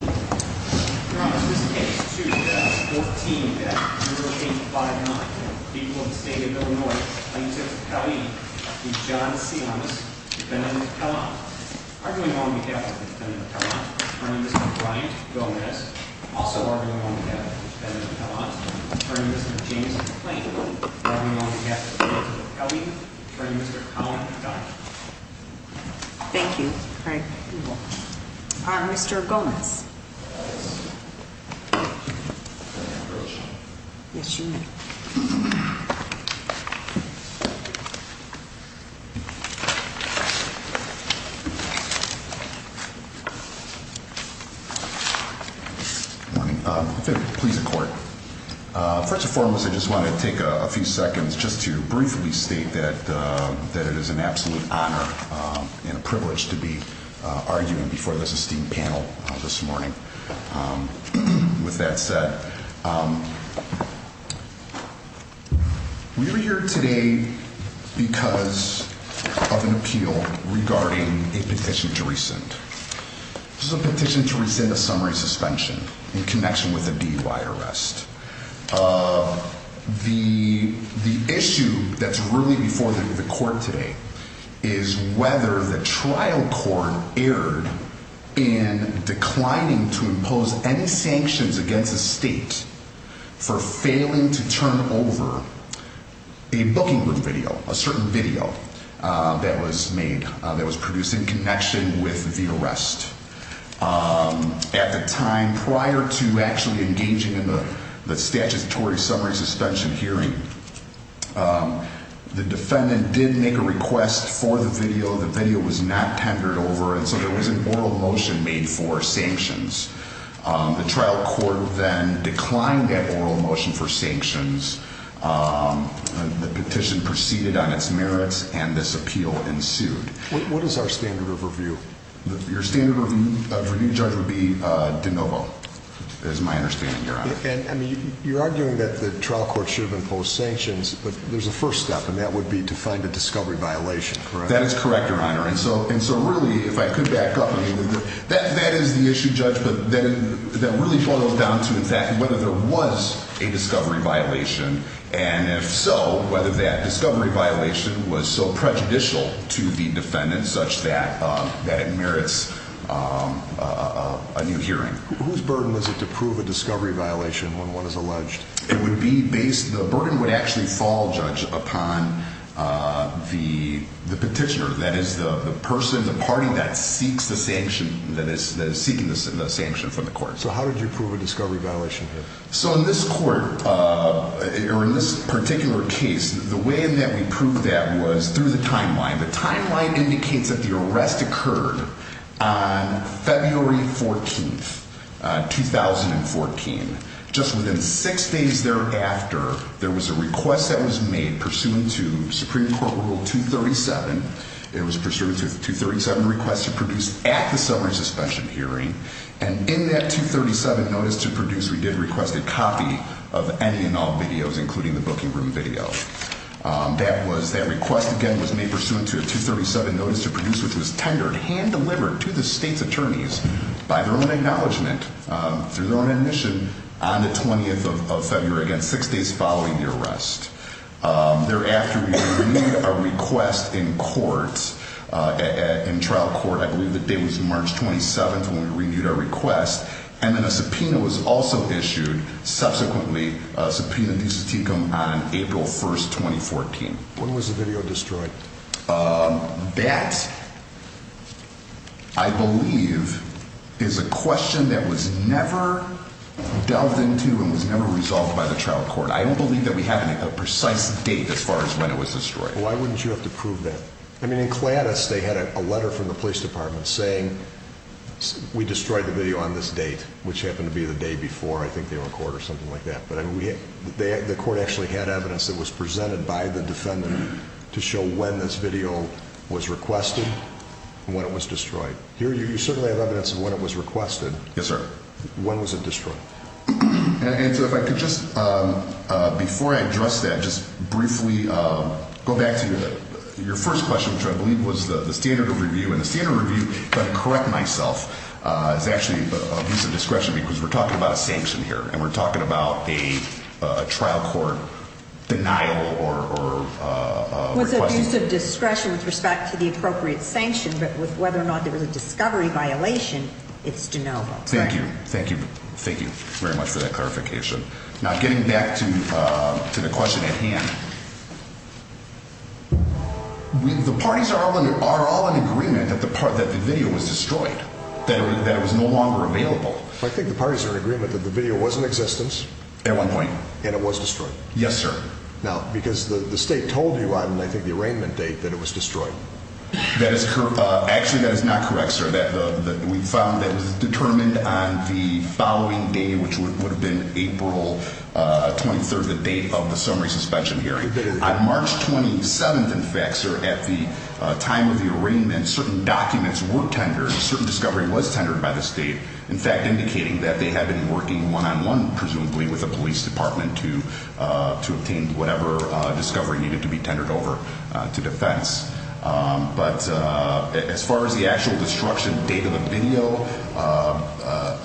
2014 Act. Rule page 5-9. People of the State of Illinois plaintiff Pelley v. John Tsiamas, defendant of Pellant. Arguing on behalf of the defendant of Pellant, Attorney Mr. Brian Gomez. Also arguing on behalf of the defendant of Pellant, Attorney Mr. James McClain. Arguing on behalf of the defendant of Pelley, Attorney Mr. Colin Dodge. Thank you, Craig. Mr. Gomez. Yes, Your Honor. With that said, we are here today because of an appeal regarding a petition to rescind. This is a petition to rescind a summary suspension in connection with a DUI arrest. The issue that's really before the court today is whether the trial court erred in declining to impose any sanctions against the state for failing to turn over a booking video, a certain video that was made that was produced in connection with the arrest. At the time prior to actually engaging in the statutory summary suspension hearing, the defendant did make a request for the video. The video was not tendered over, and so there was an oral motion made for sanctions. The trial court then declined that oral motion for sanctions. The petition proceeded on its merits, and this appeal ensued. What is our standard of review? Your standard of review, Judge, would be de novo, is my understanding, Your Honor. And, I mean, you're arguing that the trial court should have imposed sanctions, but there's a first step, and that would be to find a discovery violation, correct? That is correct, Your Honor. And so really, if I could back up a little bit, that is the issue, Judge, that really boils down to exactly whether there was a discovery violation, and if so, whether that discovery violation was so prejudicial to the defendant such that it merits a new hearing. Whose burden was it to prove a discovery violation when one is alleged? The burden would actually fall, Judge, upon the petitioner, that is the person, the party that seeks the sanction, that is seeking the sanction from the court. So how did you prove a discovery violation here? So in this court, or in this particular case, the way in that we proved that was through the timeline. The timeline indicates that the arrest occurred on February 14th, 2014. Just within six days thereafter, there was a request that was made pursuant to Supreme Court Rule 237. It was pursuant to the 237 request to produce at the summary suspension hearing. And in that 237 notice to produce, we did request a copy of any and all videos, including the booking room video. That request, again, was made pursuant to a 237 notice to produce, which was tendered, hand-delivered to the state's attorneys by their own acknowledgment, through their own admission, on the 20th of February, again, six days following the arrest. Thereafter, we renewed our request in court, in trial court. I believe the date was March 27th when we renewed our request. And then a subpoena was also issued, subsequently, a subpoena due to Tecum on April 1st, 2014. When was the video destroyed? That, I believe, is a question that was never delved into and was never resolved by the trial court. I don't believe that we have a precise date as far as when it was destroyed. Why wouldn't you have to prove that? I mean, in Gladys, they had a letter from the police department saying, we destroyed the video on this date, which happened to be the day before, I think, they were in court or something like that. But the court actually had evidence that was presented by the defendant to show when this video was requested and when it was destroyed. Here, you certainly have evidence of when it was requested. Yes, sir. When was it destroyed? And so if I could just, before I address that, just briefly go back to your first question, which I believe was the standard of review. And the standard of review, if I can correct myself, is actually abuse of discretion because we're talking about a sanction here and we're talking about a trial court denial or request. It was abuse of discretion with respect to the appropriate sanction, but with whether or not there was a discovery violation, it's de novo. Thank you. Thank you. Thank you very much for that clarification. Now, getting back to the question at hand, the parties are all in agreement that the video was destroyed, that it was no longer available. I think the parties are in agreement that the video was in existence. At one point. And it was destroyed. Yes, sir. Now, because the state told you on, I think, the arraignment date that it was destroyed. Actually, that is not correct, sir. We found that it was determined on the following day, which would have been April 23rd, the date of the summary suspension hearing. On March 27th, in fact, sir, at the time of the arraignment, certain documents were tendered, certain discovery was tendered by the state. In fact, indicating that they had been working one on one, presumably with the police department to obtain whatever discovery needed to be tendered over to defense. But as far as the actual destruction date of the video,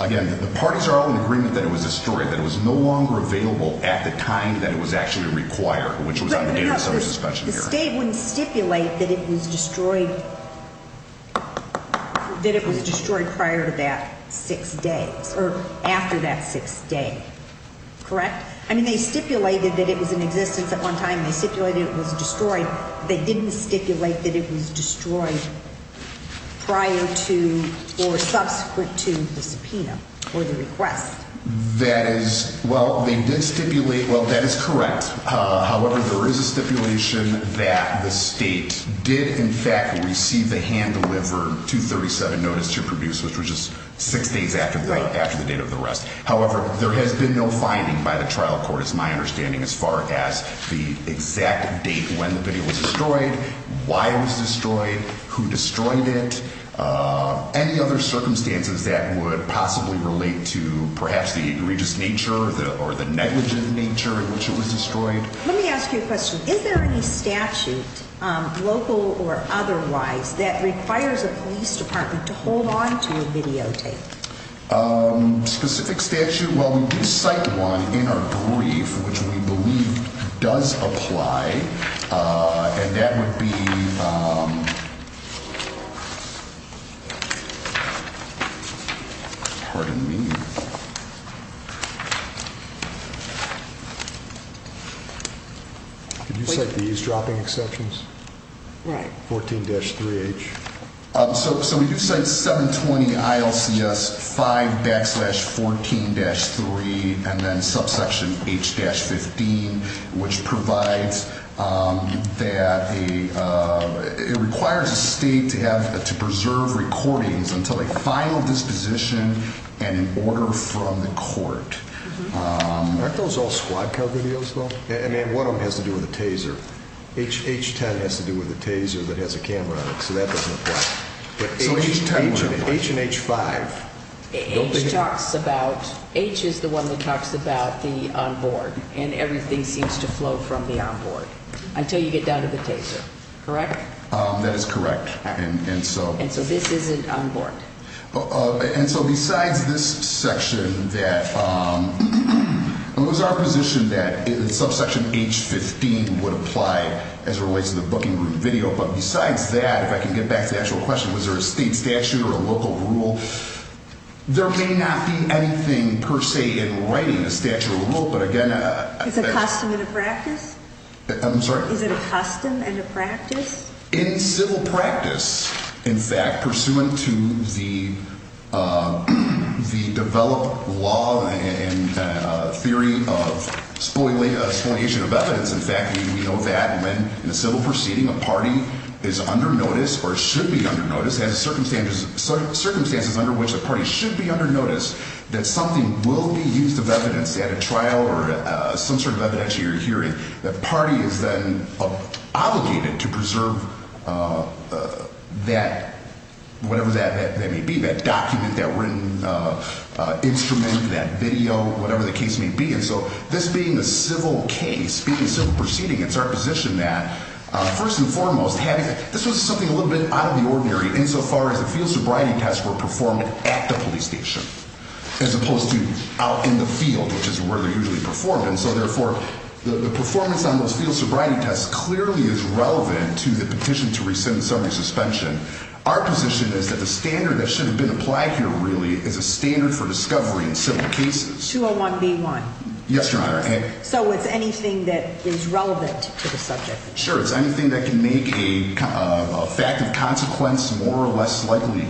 again, the parties are all in agreement that it was destroyed, that it was no longer available at the time that it was actually required, which was on the date of the summary suspension hearing. The state wouldn't stipulate that it was destroyed, that it was destroyed prior to that six days or after that six day. Correct. I mean, they stipulated that it was in existence at one time. They stipulated it was destroyed. They didn't stipulate that it was destroyed prior to or subsequent to the subpoena or the request. That is. Well, they did stipulate. Well, that is correct. However, there is a stipulation that the state did, in fact, receive a hand-delivered 237 notice to produce, which was just six days after the date of the arrest. However, there has been no finding by the trial court, as my understanding, as far as the exact date when the video was destroyed, why it was destroyed, who destroyed it. Any other circumstances that would possibly relate to perhaps the egregious nature or the negligent nature in which it was destroyed? Let me ask you a question. Is there any statute, local or otherwise, that requires a police department to hold on to a videotape? Specific statute? Well, we do cite one in our brief, which we believe does apply. And that would be. Pardon me. Could you cite these dropping exceptions? Right. 14-3H. So we do cite 720 ILCS 5 backslash 14-3 and then subsection H-15, which provides that it requires a state to preserve recordings until a final disposition and an order from the court. Aren't those all squad car videos, though? I mean, one of them has to do with a Taser. H-10 has to do with a Taser that has a camera on it, so that doesn't apply. So H-10 wouldn't apply. But H and H-5. H talks about, H is the one that talks about the onboard, and everything seems to flow from the onboard until you get down to the Taser, correct? That is correct. And so. And so this isn't onboard. And so besides this section that, it was our position that subsection H-15 would apply as it relates to the booking group video. But besides that, if I can get back to the actual question, was there a state statute or a local rule? There may not be anything per se in writing a statute or rule, but again. Is it a custom and a practice? I'm sorry? Is it a custom and a practice? In civil practice, in fact, pursuant to the developed law and theory of spoliation of evidence, in fact, we know that when in a civil proceeding a party is under notice or should be under notice, circumstances under which a party should be under notice, that something will be used of evidence at a trial or some sort of evidence at your hearing. The party is then obligated to preserve that, whatever that may be, that document, that written instrument, that video, whatever the case may be. And so this being a civil case, being a civil proceeding, it's our position that, first and foremost, this was something a little bit out of the ordinary insofar as the field sobriety tests were performed at the police station. As opposed to out in the field, which is where they're usually performed. And so therefore, the performance on those field sobriety tests clearly is relevant to the petition to rescind the summary suspension. Our position is that the standard that should have been applied here really is a standard for discovery in civil cases. 201B1. Yes, Your Honor. So it's anything that is relevant to the subject. Sure. It's anything that can make a fact of consequence more or less likely,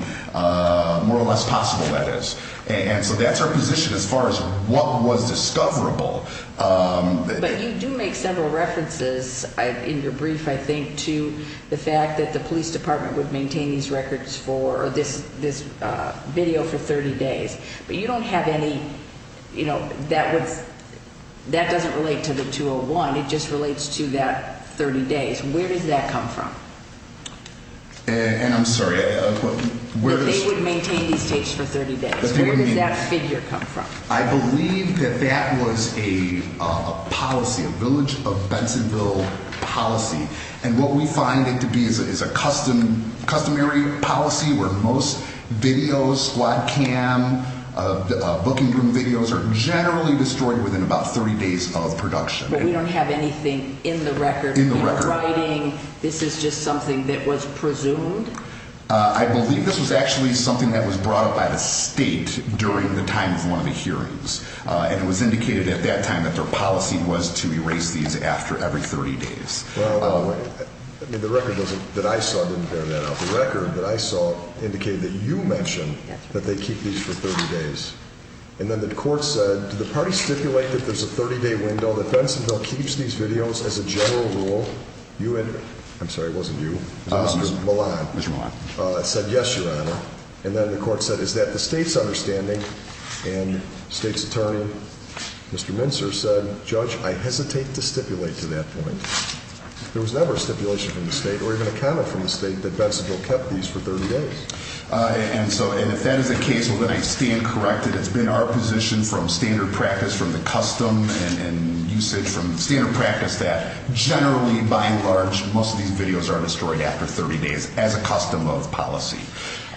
more or less possible, that is. And so that's our position as far as what was discoverable. But you do make several references in your brief, I think, to the fact that the police department would maintain these records for this video for 30 days. But you don't have any, you know, that doesn't relate to the 201. It just relates to that 30 days. Where does that come from? And I'm sorry. That they would maintain these tapes for 30 days. Where does that figure come from? I believe that that was a policy, a village of Bensonville policy. And what we find it to be is a customary policy where most videos, squad cam, booking room videos are generally destroyed within about 30 days of production. But we don't have anything in the record. In the record. In the writing. This is just something that was presumed? I believe this was actually something that was brought up by the state during the time of one of the hearings. And it was indicated at that time that their policy was to erase these after every 30 days. The record that I saw didn't bear that out. The record that I saw indicated that you mentioned that they keep these for 30 days. And then the court said, did the party stipulate that there's a 30 day window, that Bensonville keeps these videos as a general rule? I'm sorry, it wasn't you. Mr. Milan. Mr. Milan. Said yes, Your Honor. And then the court said, is that the state's understanding? And the state's attorney, Mr. Mincer, said, Judge, I hesitate to stipulate to that point. There was never a stipulation from the state or even a comment from the state that Bensonville kept these for 30 days. And so, and if that is the case, well, then I stand corrected. It's been our position from standard practice, from the custom and usage from standard practice, that generally, by and large, most of these videos are destroyed after 30 days as a custom of policy.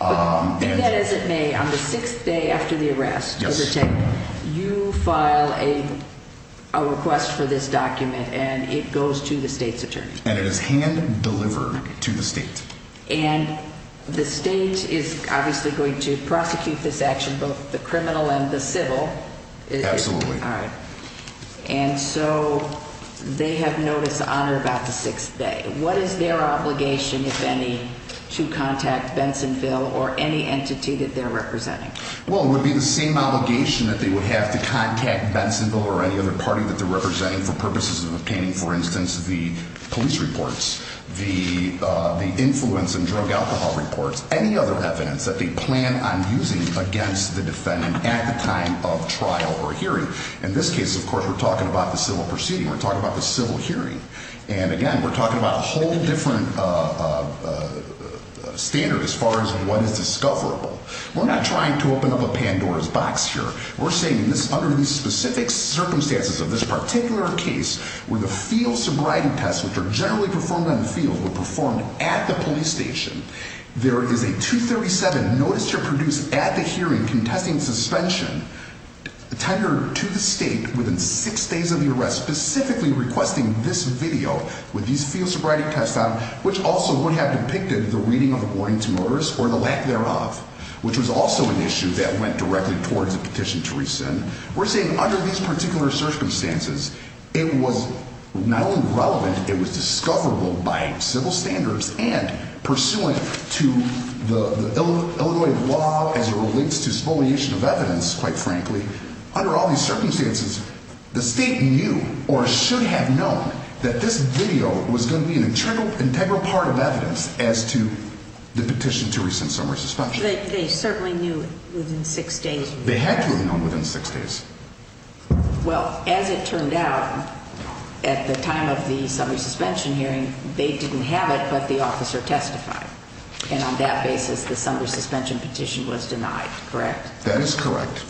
And that is in May, on the sixth day after the arrest, you file a request for this document, and it goes to the state's attorney. And it is hand delivered to the state. And the state is obviously going to prosecute this action, both the criminal and the civil. Absolutely. All right. And so they have notice on or about the sixth day. What is their obligation, if any, to contact Bensonville or any entity that they're representing? Well, it would be the same obligation that they would have to contact Bensonville or any other party that they're representing for purposes of obtaining, for instance, the police reports, the influence in drug alcohol reports, any other evidence that they plan on using against the defendant at the time of trial or hearing. In this case, of course, we're talking about the civil proceeding. We're talking about the civil hearing. And, again, we're talking about a whole different standard as far as what is discoverable. We're not trying to open up a Pandora's box here. We're saying this under these specific circumstances of this particular case where the field sobriety tests, which are generally performed on the field, were performed at the police station. There is a 237 notice to produce at the hearing contesting suspension tenured to the state within six days of the arrest, specifically requesting this video with these field sobriety tests on, which also would have depicted the reading of the warning to motorists or the lack thereof, which was also an issue that went directly towards the petition to rescind. We're saying under these particular circumstances, it was not only relevant, it was discoverable by civil standards and pursuant to the Illinois law as it relates to spoliation of evidence, quite frankly. Under all these circumstances, the state knew or should have known that this video was going to be an integral part of evidence as to the petition to rescind summary suspension. They certainly knew within six days. They had to have known within six days. Well, as it turned out, at the time of the summary suspension hearing, they didn't have it, but the officer testified. And on that basis, the summary suspension petition was denied, correct? That is correct.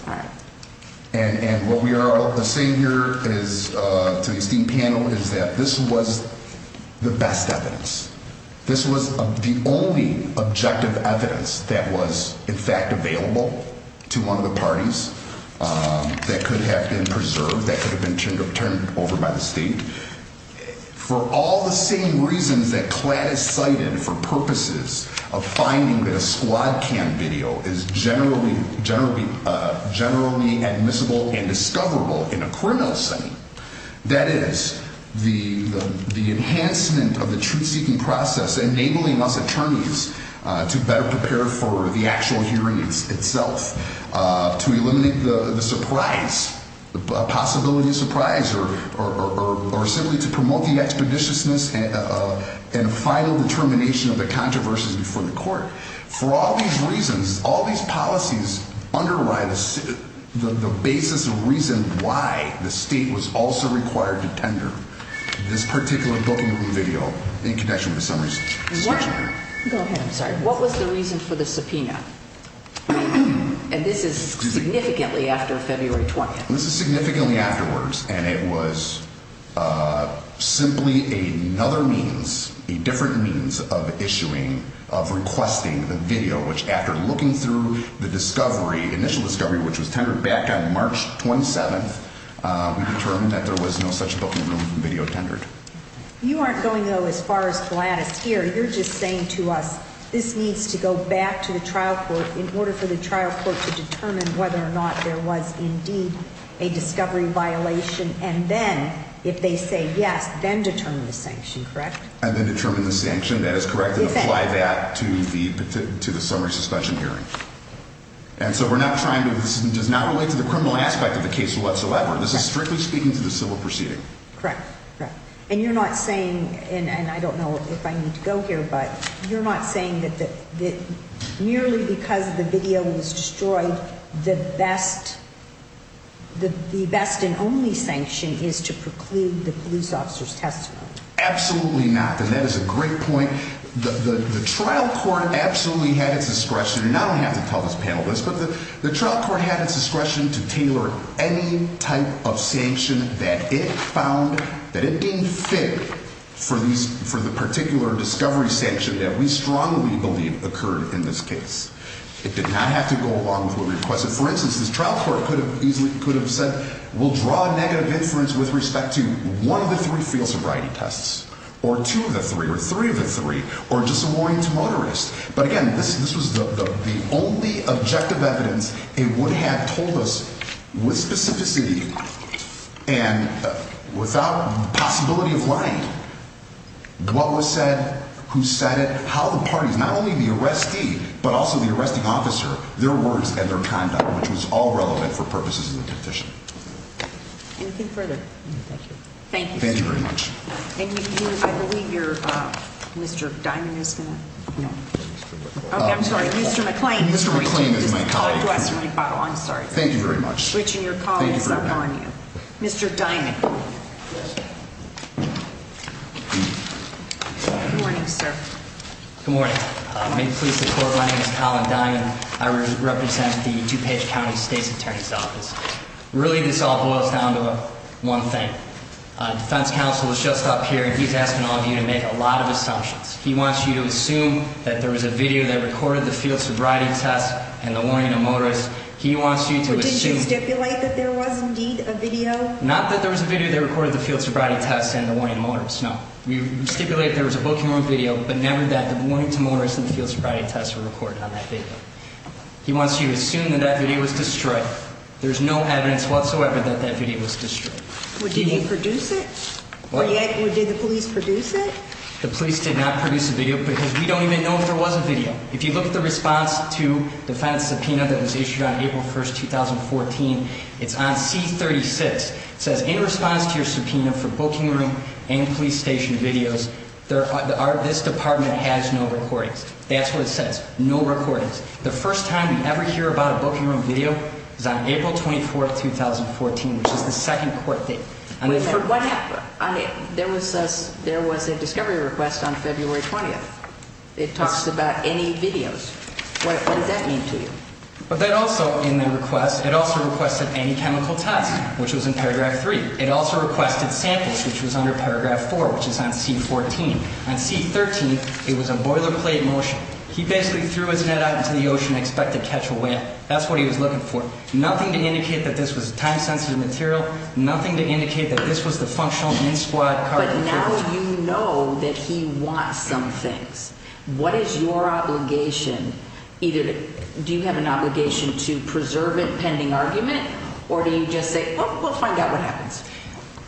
And what we are saying here to the esteemed panel is that this was the best evidence. This was the only objective evidence that was, in fact, available to one of the parties that could have been preserved, that could have been turned over by the state. For all the same reasons that CLAD is cited for purposes of finding that a squad cam video is generally admissible and discoverable in a criminal setting, that is, the enhancement of the truth-seeking process, enabling us attorneys to better prepare for the actual hearing itself, to eliminate the surprise, the possibility of surprise, or simply to promote the expeditiousness and final determination of the controversies before the court. For all these reasons, all these policies underlie the basis of reason why the state was also required to tender this particular booking video in connection with the summary suspension hearing. What was the reason for the subpoena? And this is significantly after February 20th. This is significantly afterwards, and it was simply another means, a different means of issuing, of requesting the video, which after looking through the discovery, initial discovery, which was tendered back on March 27th, we determined that there was no such booking room video tendered. You aren't going, though, as far as CLAD is here, you're just saying to us, this needs to go back to the trial court in order for the trial court to determine whether or not there was indeed a discovery violation, and then, if they say yes, then determine the sanction, correct? And then determine the sanction, that is correct, and apply that to the summary suspension hearing. And so we're not trying to, this does not relate to the criminal aspect of the case whatsoever. This is strictly speaking to the civil proceeding. Correct, correct. And you're not saying, and I don't know if I need to go here, but you're not saying that merely because the video was destroyed, the best and only sanction is to preclude the police officer's testimony? Absolutely not, and that is a great point. The trial court absolutely had its discretion, and I don't have to tell this panel this, but the trial court had its discretion to tailor any type of sanction that it found that it deemed fit for the particular discovery sanction that we strongly believe occurred in this case. It did not have to go along with what we requested. For instance, this trial court could have said, we'll draw a negative inference with respect to one of the three field sobriety tests, or two of the three, or three of the three, or just a warning to motorists. But again, this was the only objective evidence it would have told us with specificity and without possibility of lying what was said, who said it, how the parties, not only the arrestee, but also the arresting officer, their words and their conduct, which was all relevant for purposes of the petition. Anything further? Thank you. Thank you very much. Thank you. I believe you're Mr. Diamond is going to. No. I'm sorry. Mr. McLean. Mr. McLean is my colleague. I'm sorry. Thank you very much. Switching your calls up on you. Mr. Diamond. Good morning, sir. Good morning. My name is Colin Diamond. I represent the DuPage County State's Attorney's Office. Really, this all boils down to one thing. Defense counsel was just up here, and he's asking all of you to make a lot of assumptions. He wants you to assume that there was a video that recorded the field sobriety test and the warning of motorists. He wants you to assume. But didn't you stipulate that there was indeed a video? Not that there was a video that recorded the field sobriety test and the warning of motorists, no. We stipulated there's a booking room video, but never that the warning to motorists and the field sobriety test were recorded on that video. He wants you to assume that that video was destroyed. There's no evidence whatsoever that that video was destroyed. Did you produce it? Or did the police produce it? The police did not produce a video because we don't even know if there was a video. If you look at the response to the defense subpoena that was issued on April 1, 2014, it's on C-36. It says, in response to your subpoena for booking room and police station videos, this department has no recordings. That's what it says, no recordings. The first time we ever hear about a booking room video is on April 24, 2014, which is the second court date. Wait a minute. There was a discovery request on February 20th. It talks about any videos. What does that mean to you? But then also in the request, it also requested any chemical tests, which was in paragraph 3. It also requested samples, which was under paragraph 4, which is on C-14. On C-13, it was a boilerplate motion. He basically threw his net out into the ocean and expected to catch a whale. That's what he was looking for. Nothing to indicate that this was a time-sensitive material. Nothing to indicate that this was the functional in-squad carbon footprint. But now you know that he wants some things. What is your obligation? Either do you have an obligation to preserve it, pending argument, or do you just say, oh, we'll find out what happens?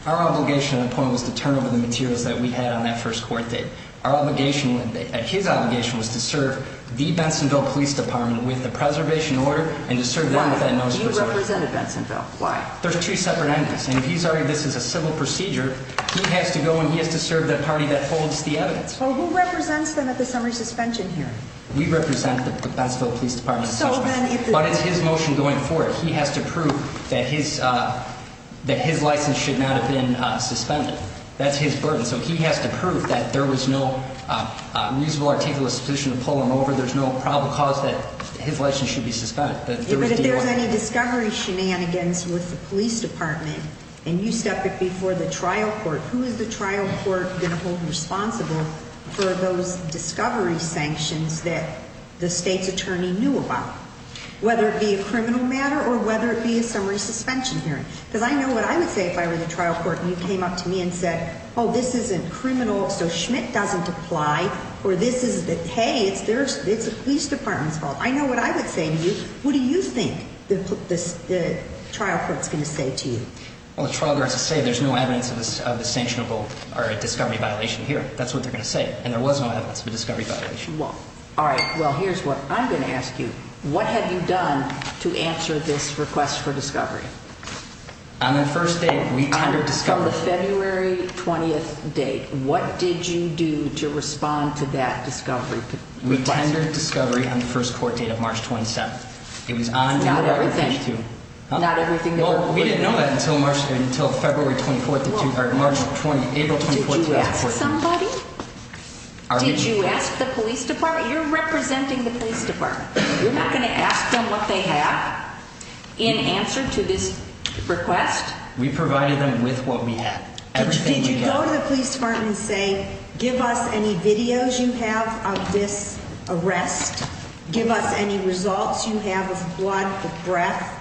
Our obligation at that point was to turn over the materials that we had on that first court date. His obligation was to serve the Bensonville Police Department with the preservation order and to serve them with that notice of preservation. Why? You represented Bensonville. Why? There's two separate entities. And if he's arguing this is a civil procedure, he has to go and he has to serve the party that holds the evidence. Well, who represents them at the summary suspension hearing? We represent the Bensonville Police Department. But it's his motion going forward. He has to prove that his license should not have been suspended. That's his burden. So he has to prove that there was no reasonable, articulous position to pull him over. There's no probable cause that his license should be suspended. But if there's any discovery shenanigans with the police department and you step it before the trial court, who is the trial court going to hold responsible for those discovery sanctions that the state's attorney knew about, whether it be a criminal matter or whether it be a summary suspension hearing? Because I know what I would say if I were the trial court and you came up to me and said, oh, this isn't criminal, so Schmidt doesn't apply, or this is the, hey, it's the police department's fault. I know what I would say to you. What do you think the trial court's going to say to you? Well, the trial court has to say there's no evidence of the sanctionable or discovery violation here. That's what they're going to say. And there was no evidence of a discovery violation. Well, all right. Well, here's what I'm going to ask you. What have you done to answer this request for discovery? On the first day, we tendered discovery. On the February 20th date, what did you do to respond to that discovery request? We tendered discovery on the first court date of March 27th. It was on the record page 2. Not everything. Huh? Not everything. Well, we didn't know that until February 24th or March 20th, April 24th, 2014. Did you ask somebody? Did you ask the police department? You're representing the police department. You're not going to ask them what they have in answer to this request? We provided them with what we had. Did you go to the police department and say, give us any videos you have of this arrest? Give us any results you have of blood, of breath?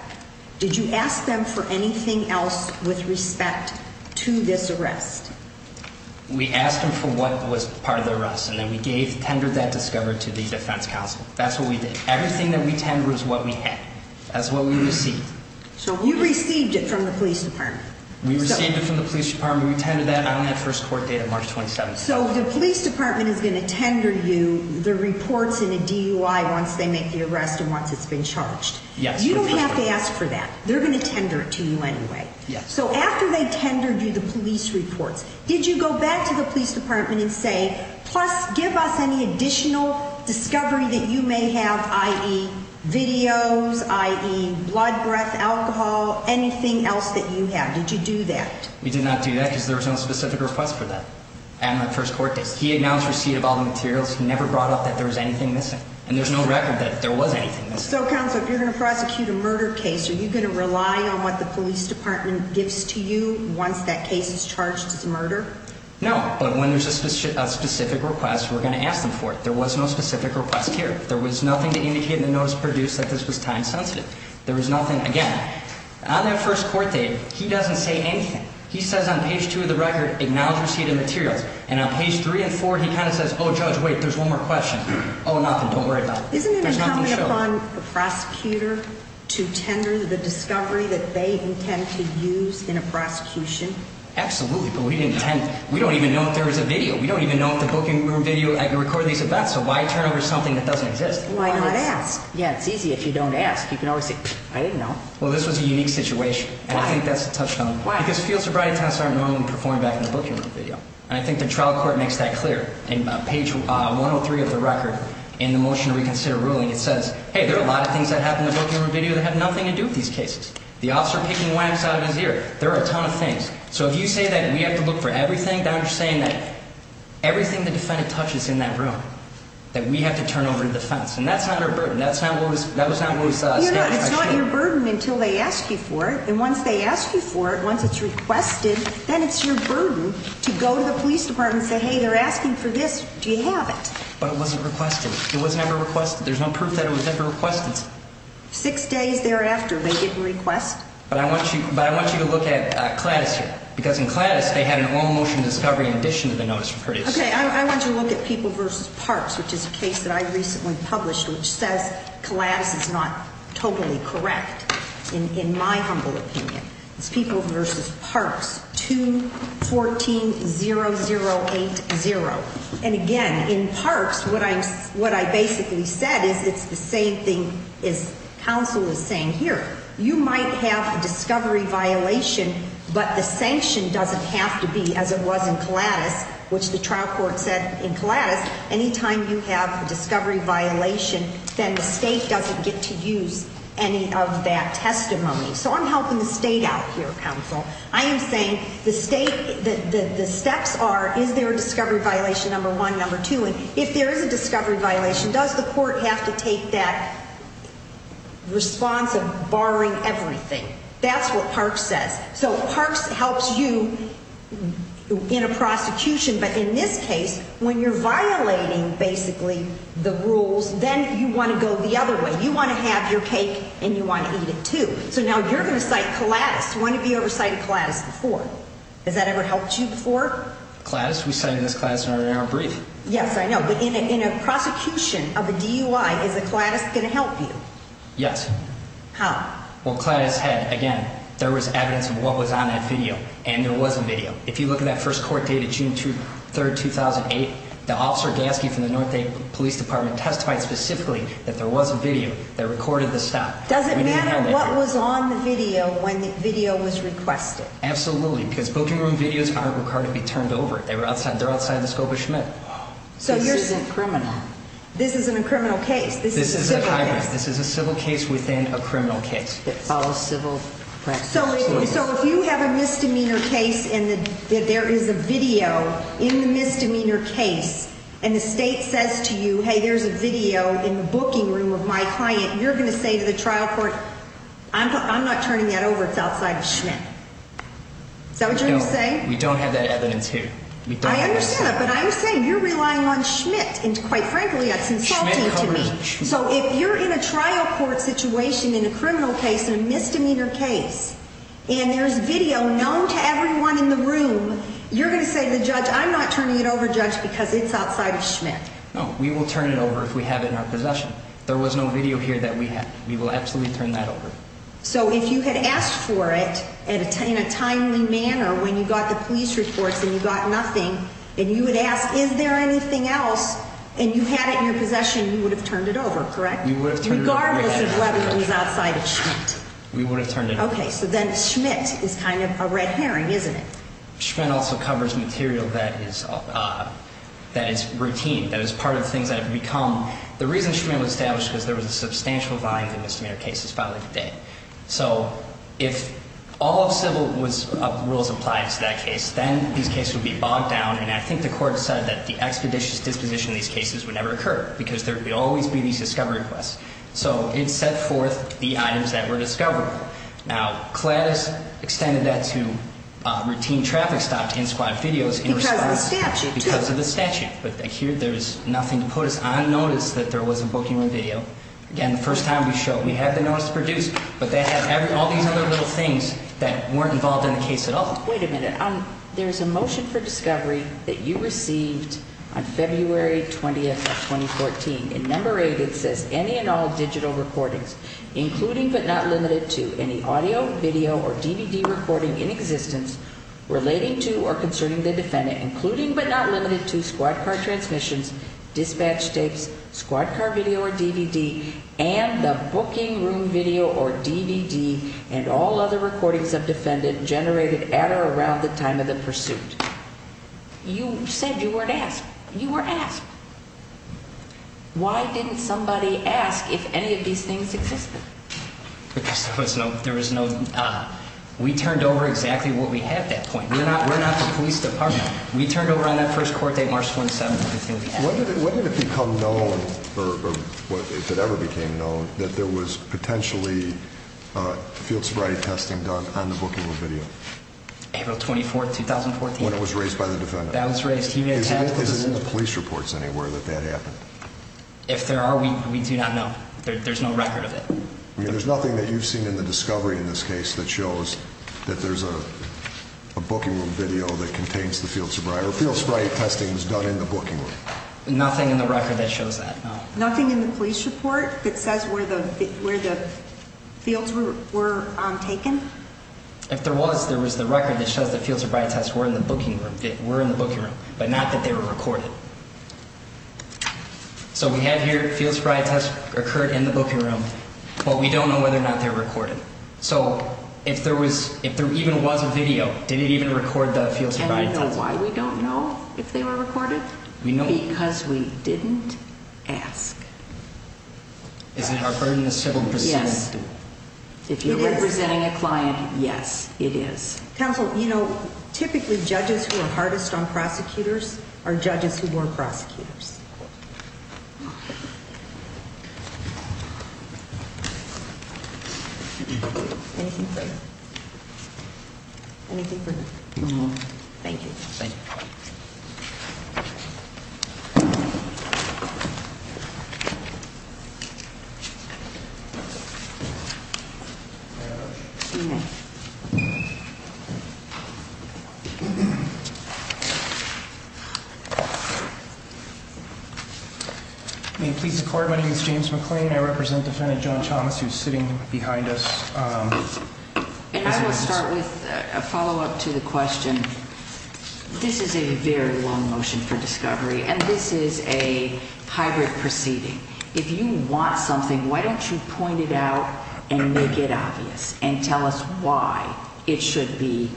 Did you ask them for anything else with respect to this arrest? We asked them for what was part of the arrest, and then we tendered that discovery to the defense counsel. That's what we did. Everything that we tendered was what we had. That's what we received. So you received it from the police department. We received it from the police department. We tendered that on that first court date of March 27th. So the police department is going to tender you the reports in a DUI once they make the arrest and once it's been charged. Yes. You don't have to ask for that. They're going to tender it to you anyway. Yes. So after they tendered you the police reports, did you go back to the police department and say, plus give us any additional discovery that you may have, i.e. videos, i.e. blood, breath, alcohol, anything else that you have? Did you do that? We did not do that because there was no specific request for that on that first court date. He announced receipt of all the materials. He never brought up that there was anything missing, and there's no record that there was anything missing. So, counsel, if you're going to prosecute a murder case, are you going to rely on what the police department gives to you once that case is charged as a murder? No, but when there's a specific request, we're going to ask them for it. There was no specific request here. There was nothing to indicate in the notice produced that this was time sensitive. There was nothing, again, on that first court date, he doesn't say anything. He says on page 2 of the record, acknowledge receipt of materials, and on page 3 and 4, he kind of says, oh, judge, wait, there's one more question. Oh, nothing. Don't worry about it. There's nothing to show. Do you rely upon the prosecutor to tender the discovery that they intend to use in a prosecution? Absolutely, but we didn't intend. We don't even know if there was a video. We don't even know if the booking room video recorded these events, so why turn over something that doesn't exist? Why not ask? Yeah, it's easy if you don't ask. You can always say, pfft, I didn't know. Well, this was a unique situation. Why? And I think that's a touchstone. Why? Because field sobriety tests aren't normally performed back in the booking room video, and I think the trial court makes that clear. On page 103 of the record, in the motion to reconsider ruling, it says, hey, there are a lot of things that happen in the booking room video that have nothing to do with these cases. The officer picking whacks out of his ear. There are a ton of things. So if you say that we have to look for everything, then you're saying that everything the defendant touches in that room that we have to turn over to defense, and that's not our burden. That was not what was stated. It's not your burden until they ask you for it, and once they ask you for it, once it's requested, then it's your burden to go to the police department and say, hey, they're asking for this. Do you have it? But it wasn't requested. It was never requested. There's no proof that it was ever requested. Six days thereafter, they didn't request. But I want you to look at Claddis here, because in Claddis, they had an all-motion discovery in addition to the notice of prejudice. Okay, I want you to look at People v. Parks, which is a case that I recently published, which says Claddis is not totally correct, in my humble opinion. It's People v. Parks, 2-14-0080. And again, in Parks, what I basically said is it's the same thing as counsel is saying here. You might have a discovery violation, but the sanction doesn't have to be as it was in Claddis, which the trial court said in Claddis. Anytime you have a discovery violation, then the state doesn't get to use any of that testimony. So I'm helping the state out here, counsel. I am saying the steps are, is there a discovery violation, number one, number two, and if there is a discovery violation, does the court have to take that response of barring everything? That's what Parks says. So Parks helps you in a prosecution, but in this case, when you're violating, basically, the rules, then you want to go the other way. You want to have your cake, and you want to eat it, too. So now you're going to cite Claddis. One of you ever cited Claddis before. Has that ever helped you before? Claddis? We cited this Claddis in our brief. Yes, I know. But in a prosecution of a DUI, is the Claddis going to help you? Yes. How? Well, Claddis had, again, there was evidence of what was on that video, and there was a video. If you look at that first court date of June 3, 2008, the officer Gasky from the North Dakota Police Department testified specifically that there was a video that recorded the stop. Does it matter what was on the video when the video was requested? Absolutely, because booking room videos aren't required to be turned over. They're outside the scope of Schmidt. This isn't criminal. This isn't a criminal case. This is a civil case. This is a civil case within a criminal case. It follows civil practice. So if you have a misdemeanor case and there is a video in the misdemeanor case, and the state says to you, hey, there's a video in the booking room of my client, you're going to say to the trial court, I'm not turning that over. It's outside of Schmidt. Is that what you're going to say? We don't have that evidence here. I understand that, but I'm saying you're relying on Schmidt, and quite frankly, that's insulting to me. So if you're in a trial court situation, in a criminal case, in a misdemeanor case, and there's video known to everyone in the room, you're going to say to the judge, I'm not turning it over, judge, because it's outside of Schmidt. No, we will turn it over if we have it in our possession. There was no video here that we have. We will absolutely turn that over. So if you had asked for it in a timely manner when you got the police reports and you got nothing, and you would ask, is there anything else, and you had it in your possession, you would have turned it over, correct? We would have turned it over. Regardless of whether it was outside of Schmidt. We would have turned it over. Okay, so then Schmidt is kind of a red herring, isn't it? Schmidt also covers material that is routine, that is part of the things that have become. The reason Schmidt was established was because there was a substantial volume of misdemeanor cases filed every day. So if all civil rules applied to that case, then these cases would be bogged down. And I think the court said that the expeditious disposition of these cases would never occur because there would always be these discovery requests. So it set forth the items that were discoverable. Now, CLADIS extended that to routine traffic stop to inscribe videos in response. Because of the statute. But here there is nothing to put us on notice that there was a booking or video. Again, the first time we showed, we had the notice produced, but they had all these other little things that weren't involved in the case at all. Wait a minute. There is a motion for discovery that you received on February 20th of 2014. In number eight, it says any and all digital recordings, including but not limited to any audio, video or DVD recording in existence relating to or concerning the defendant, including but not limited to squad car transmissions, dispatch tapes, squad car video or DVD and the booking room video or DVD and all other recordings of defendant generated at or around the time of the pursuit. You said you weren't asked. You were asked. Why didn't somebody ask if any of these things existed? Because there was no. There was no. We turned over exactly what we had at that point. We're not. We're not the police department. We turned over on that first court date, March 1st. When did it become known or if it ever became known that there was potentially field sobriety testing done on the booking room video? April 24th, 2014. When it was raised by the defendant. That was raised. Is it in the police reports anywhere that that happened? If there are, we do not know. There's no record of it. There's nothing that you've seen in the discovery in this case that shows that there's a booking room video that contains the field sobriety. Field sobriety testing was done in the booking room. Nothing in the record that shows that. Nothing in the police report that says where the fields were taken? If there was, there was the record that shows that fields of right test were in the booking room. They were in the booking room, but not that they were recorded. So we have here fields of right test occurred in the booking room, but we don't know whether or not they're recorded. So if there was, if there even was a video, did it even record the fields of right test? And you know why we don't know if they were recorded? We know. Because we didn't ask. Is it our burden as civil prosecutors? Yes. If you're representing a client, yes, it is. Counsel, you know, typically judges who are hardest on prosecutors are judges who were prosecutors. Anything further? Anything further? No more. Thank you. Thank you. Thank you. May it please the court. My name is James McLean. I represent defendant John Thomas, who's sitting behind us. And I will start with a follow-up to the question. This is a very long motion for discovery, and this is a hybrid proceeding. If you want something, why don't you point it out and make it obvious and tell us why it should be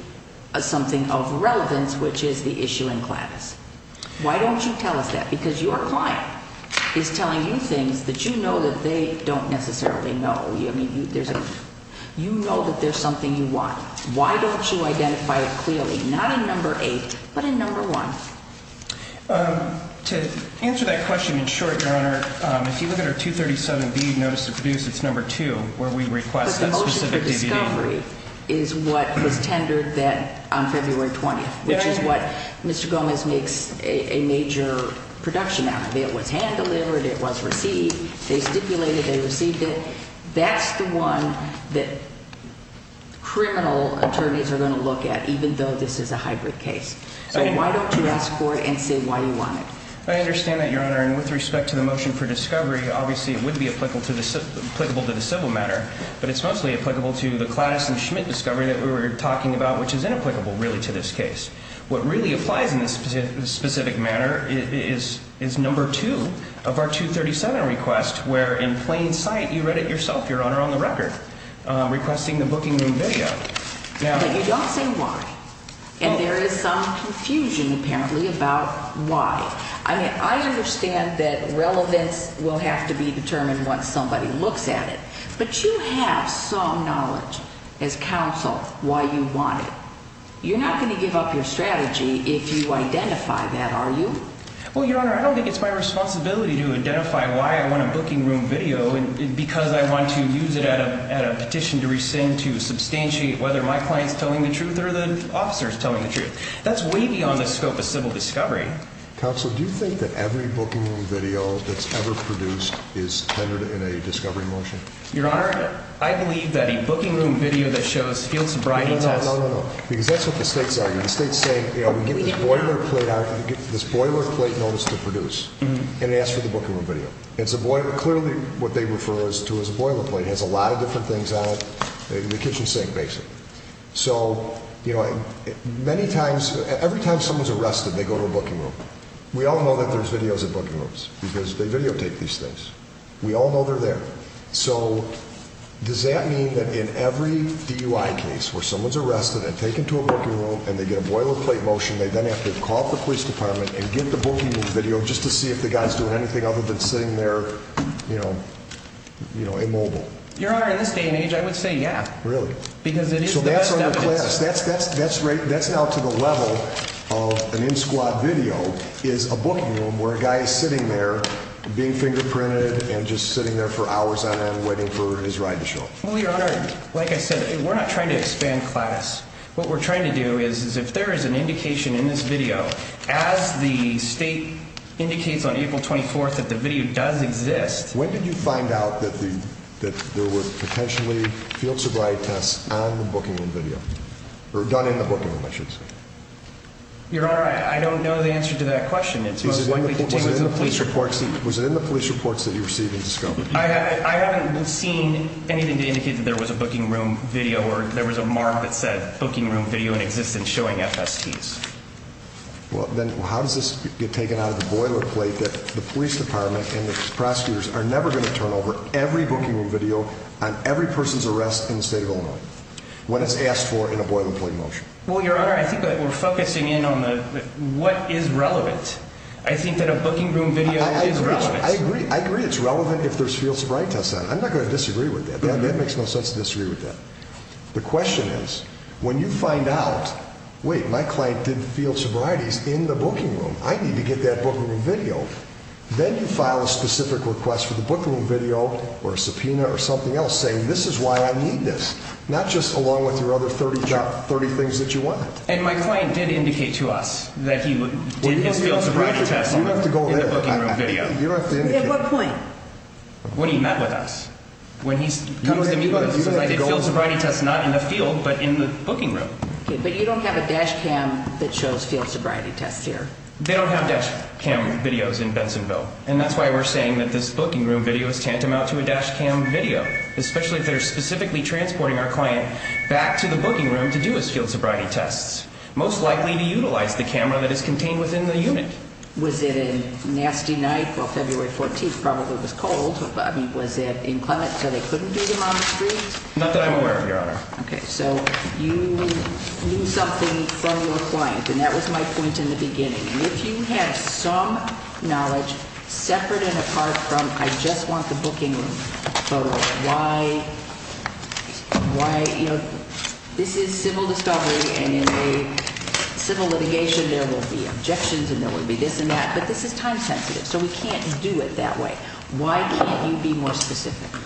something of relevance, which is the issue in Gladys? Why don't you tell us that? Because your client is telling you things that you know that they don't necessarily know. I mean, you know that there's something you want. Why don't you identify it clearly, not in number eight, but in number one? To answer that question in short, Your Honor, if you look at our 237B notice of abuse, it's number two, where we request that specific DVD. But the motion for discovery is what was tendered on February 20th, which is what Mr. Gomez makes a major production out of. It was hand-delivered. It was received. They stipulated they received it. That's the one that criminal attorneys are going to look at, even though this is a hybrid case. So why don't you ask for it and say why you want it? I understand that, Your Honor. And with respect to the motion for discovery, obviously it would be applicable to the civil matter, but it's mostly applicable to the Gladys and Schmidt discovery that we were talking about, which is inapplicable, really, to this case. What really applies in this specific manner is number two of our 237 request, where in plain sight you read it yourself, Your Honor, on the record, requesting the booking room video. But you don't say why. And there is some confusion, apparently, about why. I mean, I understand that relevance will have to be determined once somebody looks at it, but you have some knowledge as counsel why you want it. You're not going to give up your strategy if you identify that, are you? Well, Your Honor, I don't think it's my responsibility to identify why I want a booking room video because I want to use it at a petition to rescind to substantiate whether my client is telling the truth or the officer is telling the truth. That's way beyond the scope of civil discovery. Counsel, do you think that every booking room video that's ever produced is tendered in a discovery motion? Your Honor, I believe that a booking room video that shows field sobriety tests… And it asks for the booking room video. Clearly, what they refer to as a boilerplate has a lot of different things on it. The kitchen sink, basically. So, you know, many times, every time someone's arrested, they go to a booking room. We all know that there's videos at booking rooms because they videotape these things. We all know they're there. So, does that mean that in every DUI case where someone's arrested and taken to a booking room and they get a boilerplate motion, they then have to call the police department and get the booking room video just to see if the guy's doing anything other than sitting there, you know, immobile? Your Honor, in this day and age, I would say yeah. Really? Because it is the best evidence. That's now to the level of an in-squad video is a booking room where a guy is sitting there being fingerprinted and just sitting there for hours on end waiting for his ride to show up. Well, Your Honor, like I said, we're not trying to expand class. What we're trying to do is if there is an indication in this video, as the state indicates on April 24th that the video does exist… When did you find out that there were potentially field sobriety tests on the booking room video? Or done in the booking room, I should say. Your Honor, I don't know the answer to that question. Was it in the police reports that you received and discovered? I haven't seen anything to indicate that there was a booking room video or there was a mark that said booking room video in existence showing FSTs. Well, then how does this get taken out of the boilerplate that the police department and the prosecutors are never going to turn over every booking room video on every person's arrest in the state of Illinois when it's asked for in a boilerplate motion? Well, Your Honor, I think that we're focusing in on what is relevant. I think that a booking room video is relevant. I agree it's relevant if there's field sobriety tests on it. I'm not going to disagree with that. That makes no sense to disagree with that. The question is, when you find out, wait, my client did field sobrieties in the booking room. I need to get that booking room video. Then you file a specific request for the booking room video or a subpoena or something else saying this is why I need this. Not just along with your other 30 things that you want. And my client did indicate to us that he did his field sobriety test in the booking room video. At what point? When he met with us. When he comes to meet with us and says I did field sobriety tests not in the field but in the booking room. But you don't have a dash cam that shows field sobriety tests here. They don't have dash cam videos in Bensonville. And that's why we're saying that this booking room video is tantamount to a dash cam video, especially if they're specifically transporting our client back to the booking room to do his field sobriety tests, most likely to utilize the camera that is contained within the unit. Was it a nasty night? Well, February 14th probably was cold. Was it inclement so they couldn't do them on the street? Not that I'm aware of, Your Honor. Okay. So you knew something from your client. And that was my point in the beginning. And if you have some knowledge separate and apart from I just want the booking room photo, why, you know, this is civil discovery. And in a civil litigation, there will be objections and there will be this and that. But this is time sensitive. So we can't do it that way. Why can't you be more specific?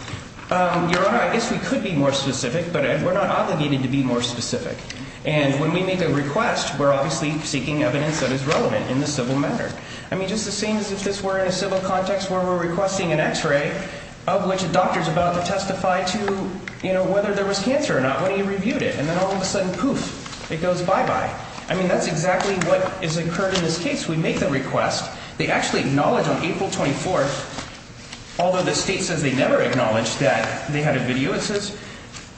Your Honor, I guess we could be more specific, but we're not obligated to be more specific. And when we make a request, we're obviously seeking evidence that is relevant in the civil matter. I mean, just the same as if this were in a civil context where we're requesting an X-ray of which a doctor is about to testify to, you know, whether there was cancer or not when he reviewed it. And then all of a sudden, poof, it goes bye-bye. I mean, that's exactly what has occurred in this case. We make the request. They actually acknowledge on April 24th, although the state says they never acknowledged that they had a video, it says,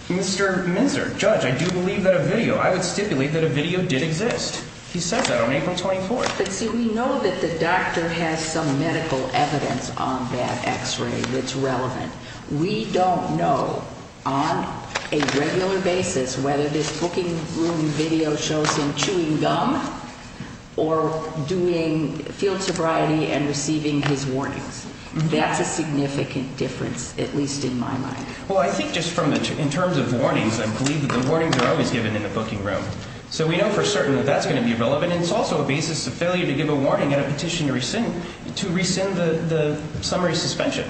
Mr. Minzer, judge, I do believe that a video, I would stipulate that a video did exist. He says that on April 24th. But see, we know that the doctor has some medical evidence on that X-ray that's relevant. We don't know on a regular basis whether this booking room video shows him chewing gum or doing field sobriety and receiving his warnings. That's a significant difference, at least in my mind. Well, I think just in terms of warnings, I believe that the warnings are always given in the booking room. So we know for certain that that's going to be relevant. And it's also a basis of failure to give a warning at a petition to rescind the summary suspension.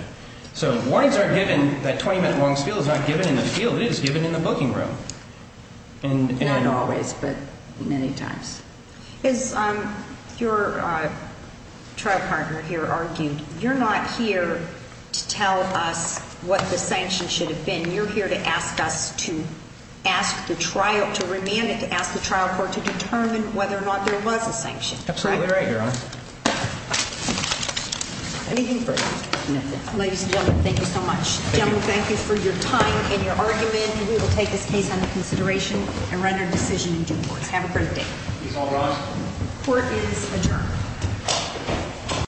So warnings are given. That 20-minute warning spiel is not given in the field. It is given in the booking room. Not always, but many times. As your trial partner here argued, you're not here to tell us what the sanctions should have been. You're here to ask us to ask the trial, to remand it, to ask the trial court to determine whether or not there was a sanction. Absolutely right, Your Honor. Anything further? No. Ladies and gentlemen, thank you so much. Gentlemen, thank you for your time and your argument. We will take this case under consideration and run our decision in due course. Have a great day. Please all rise. Court is adjourned.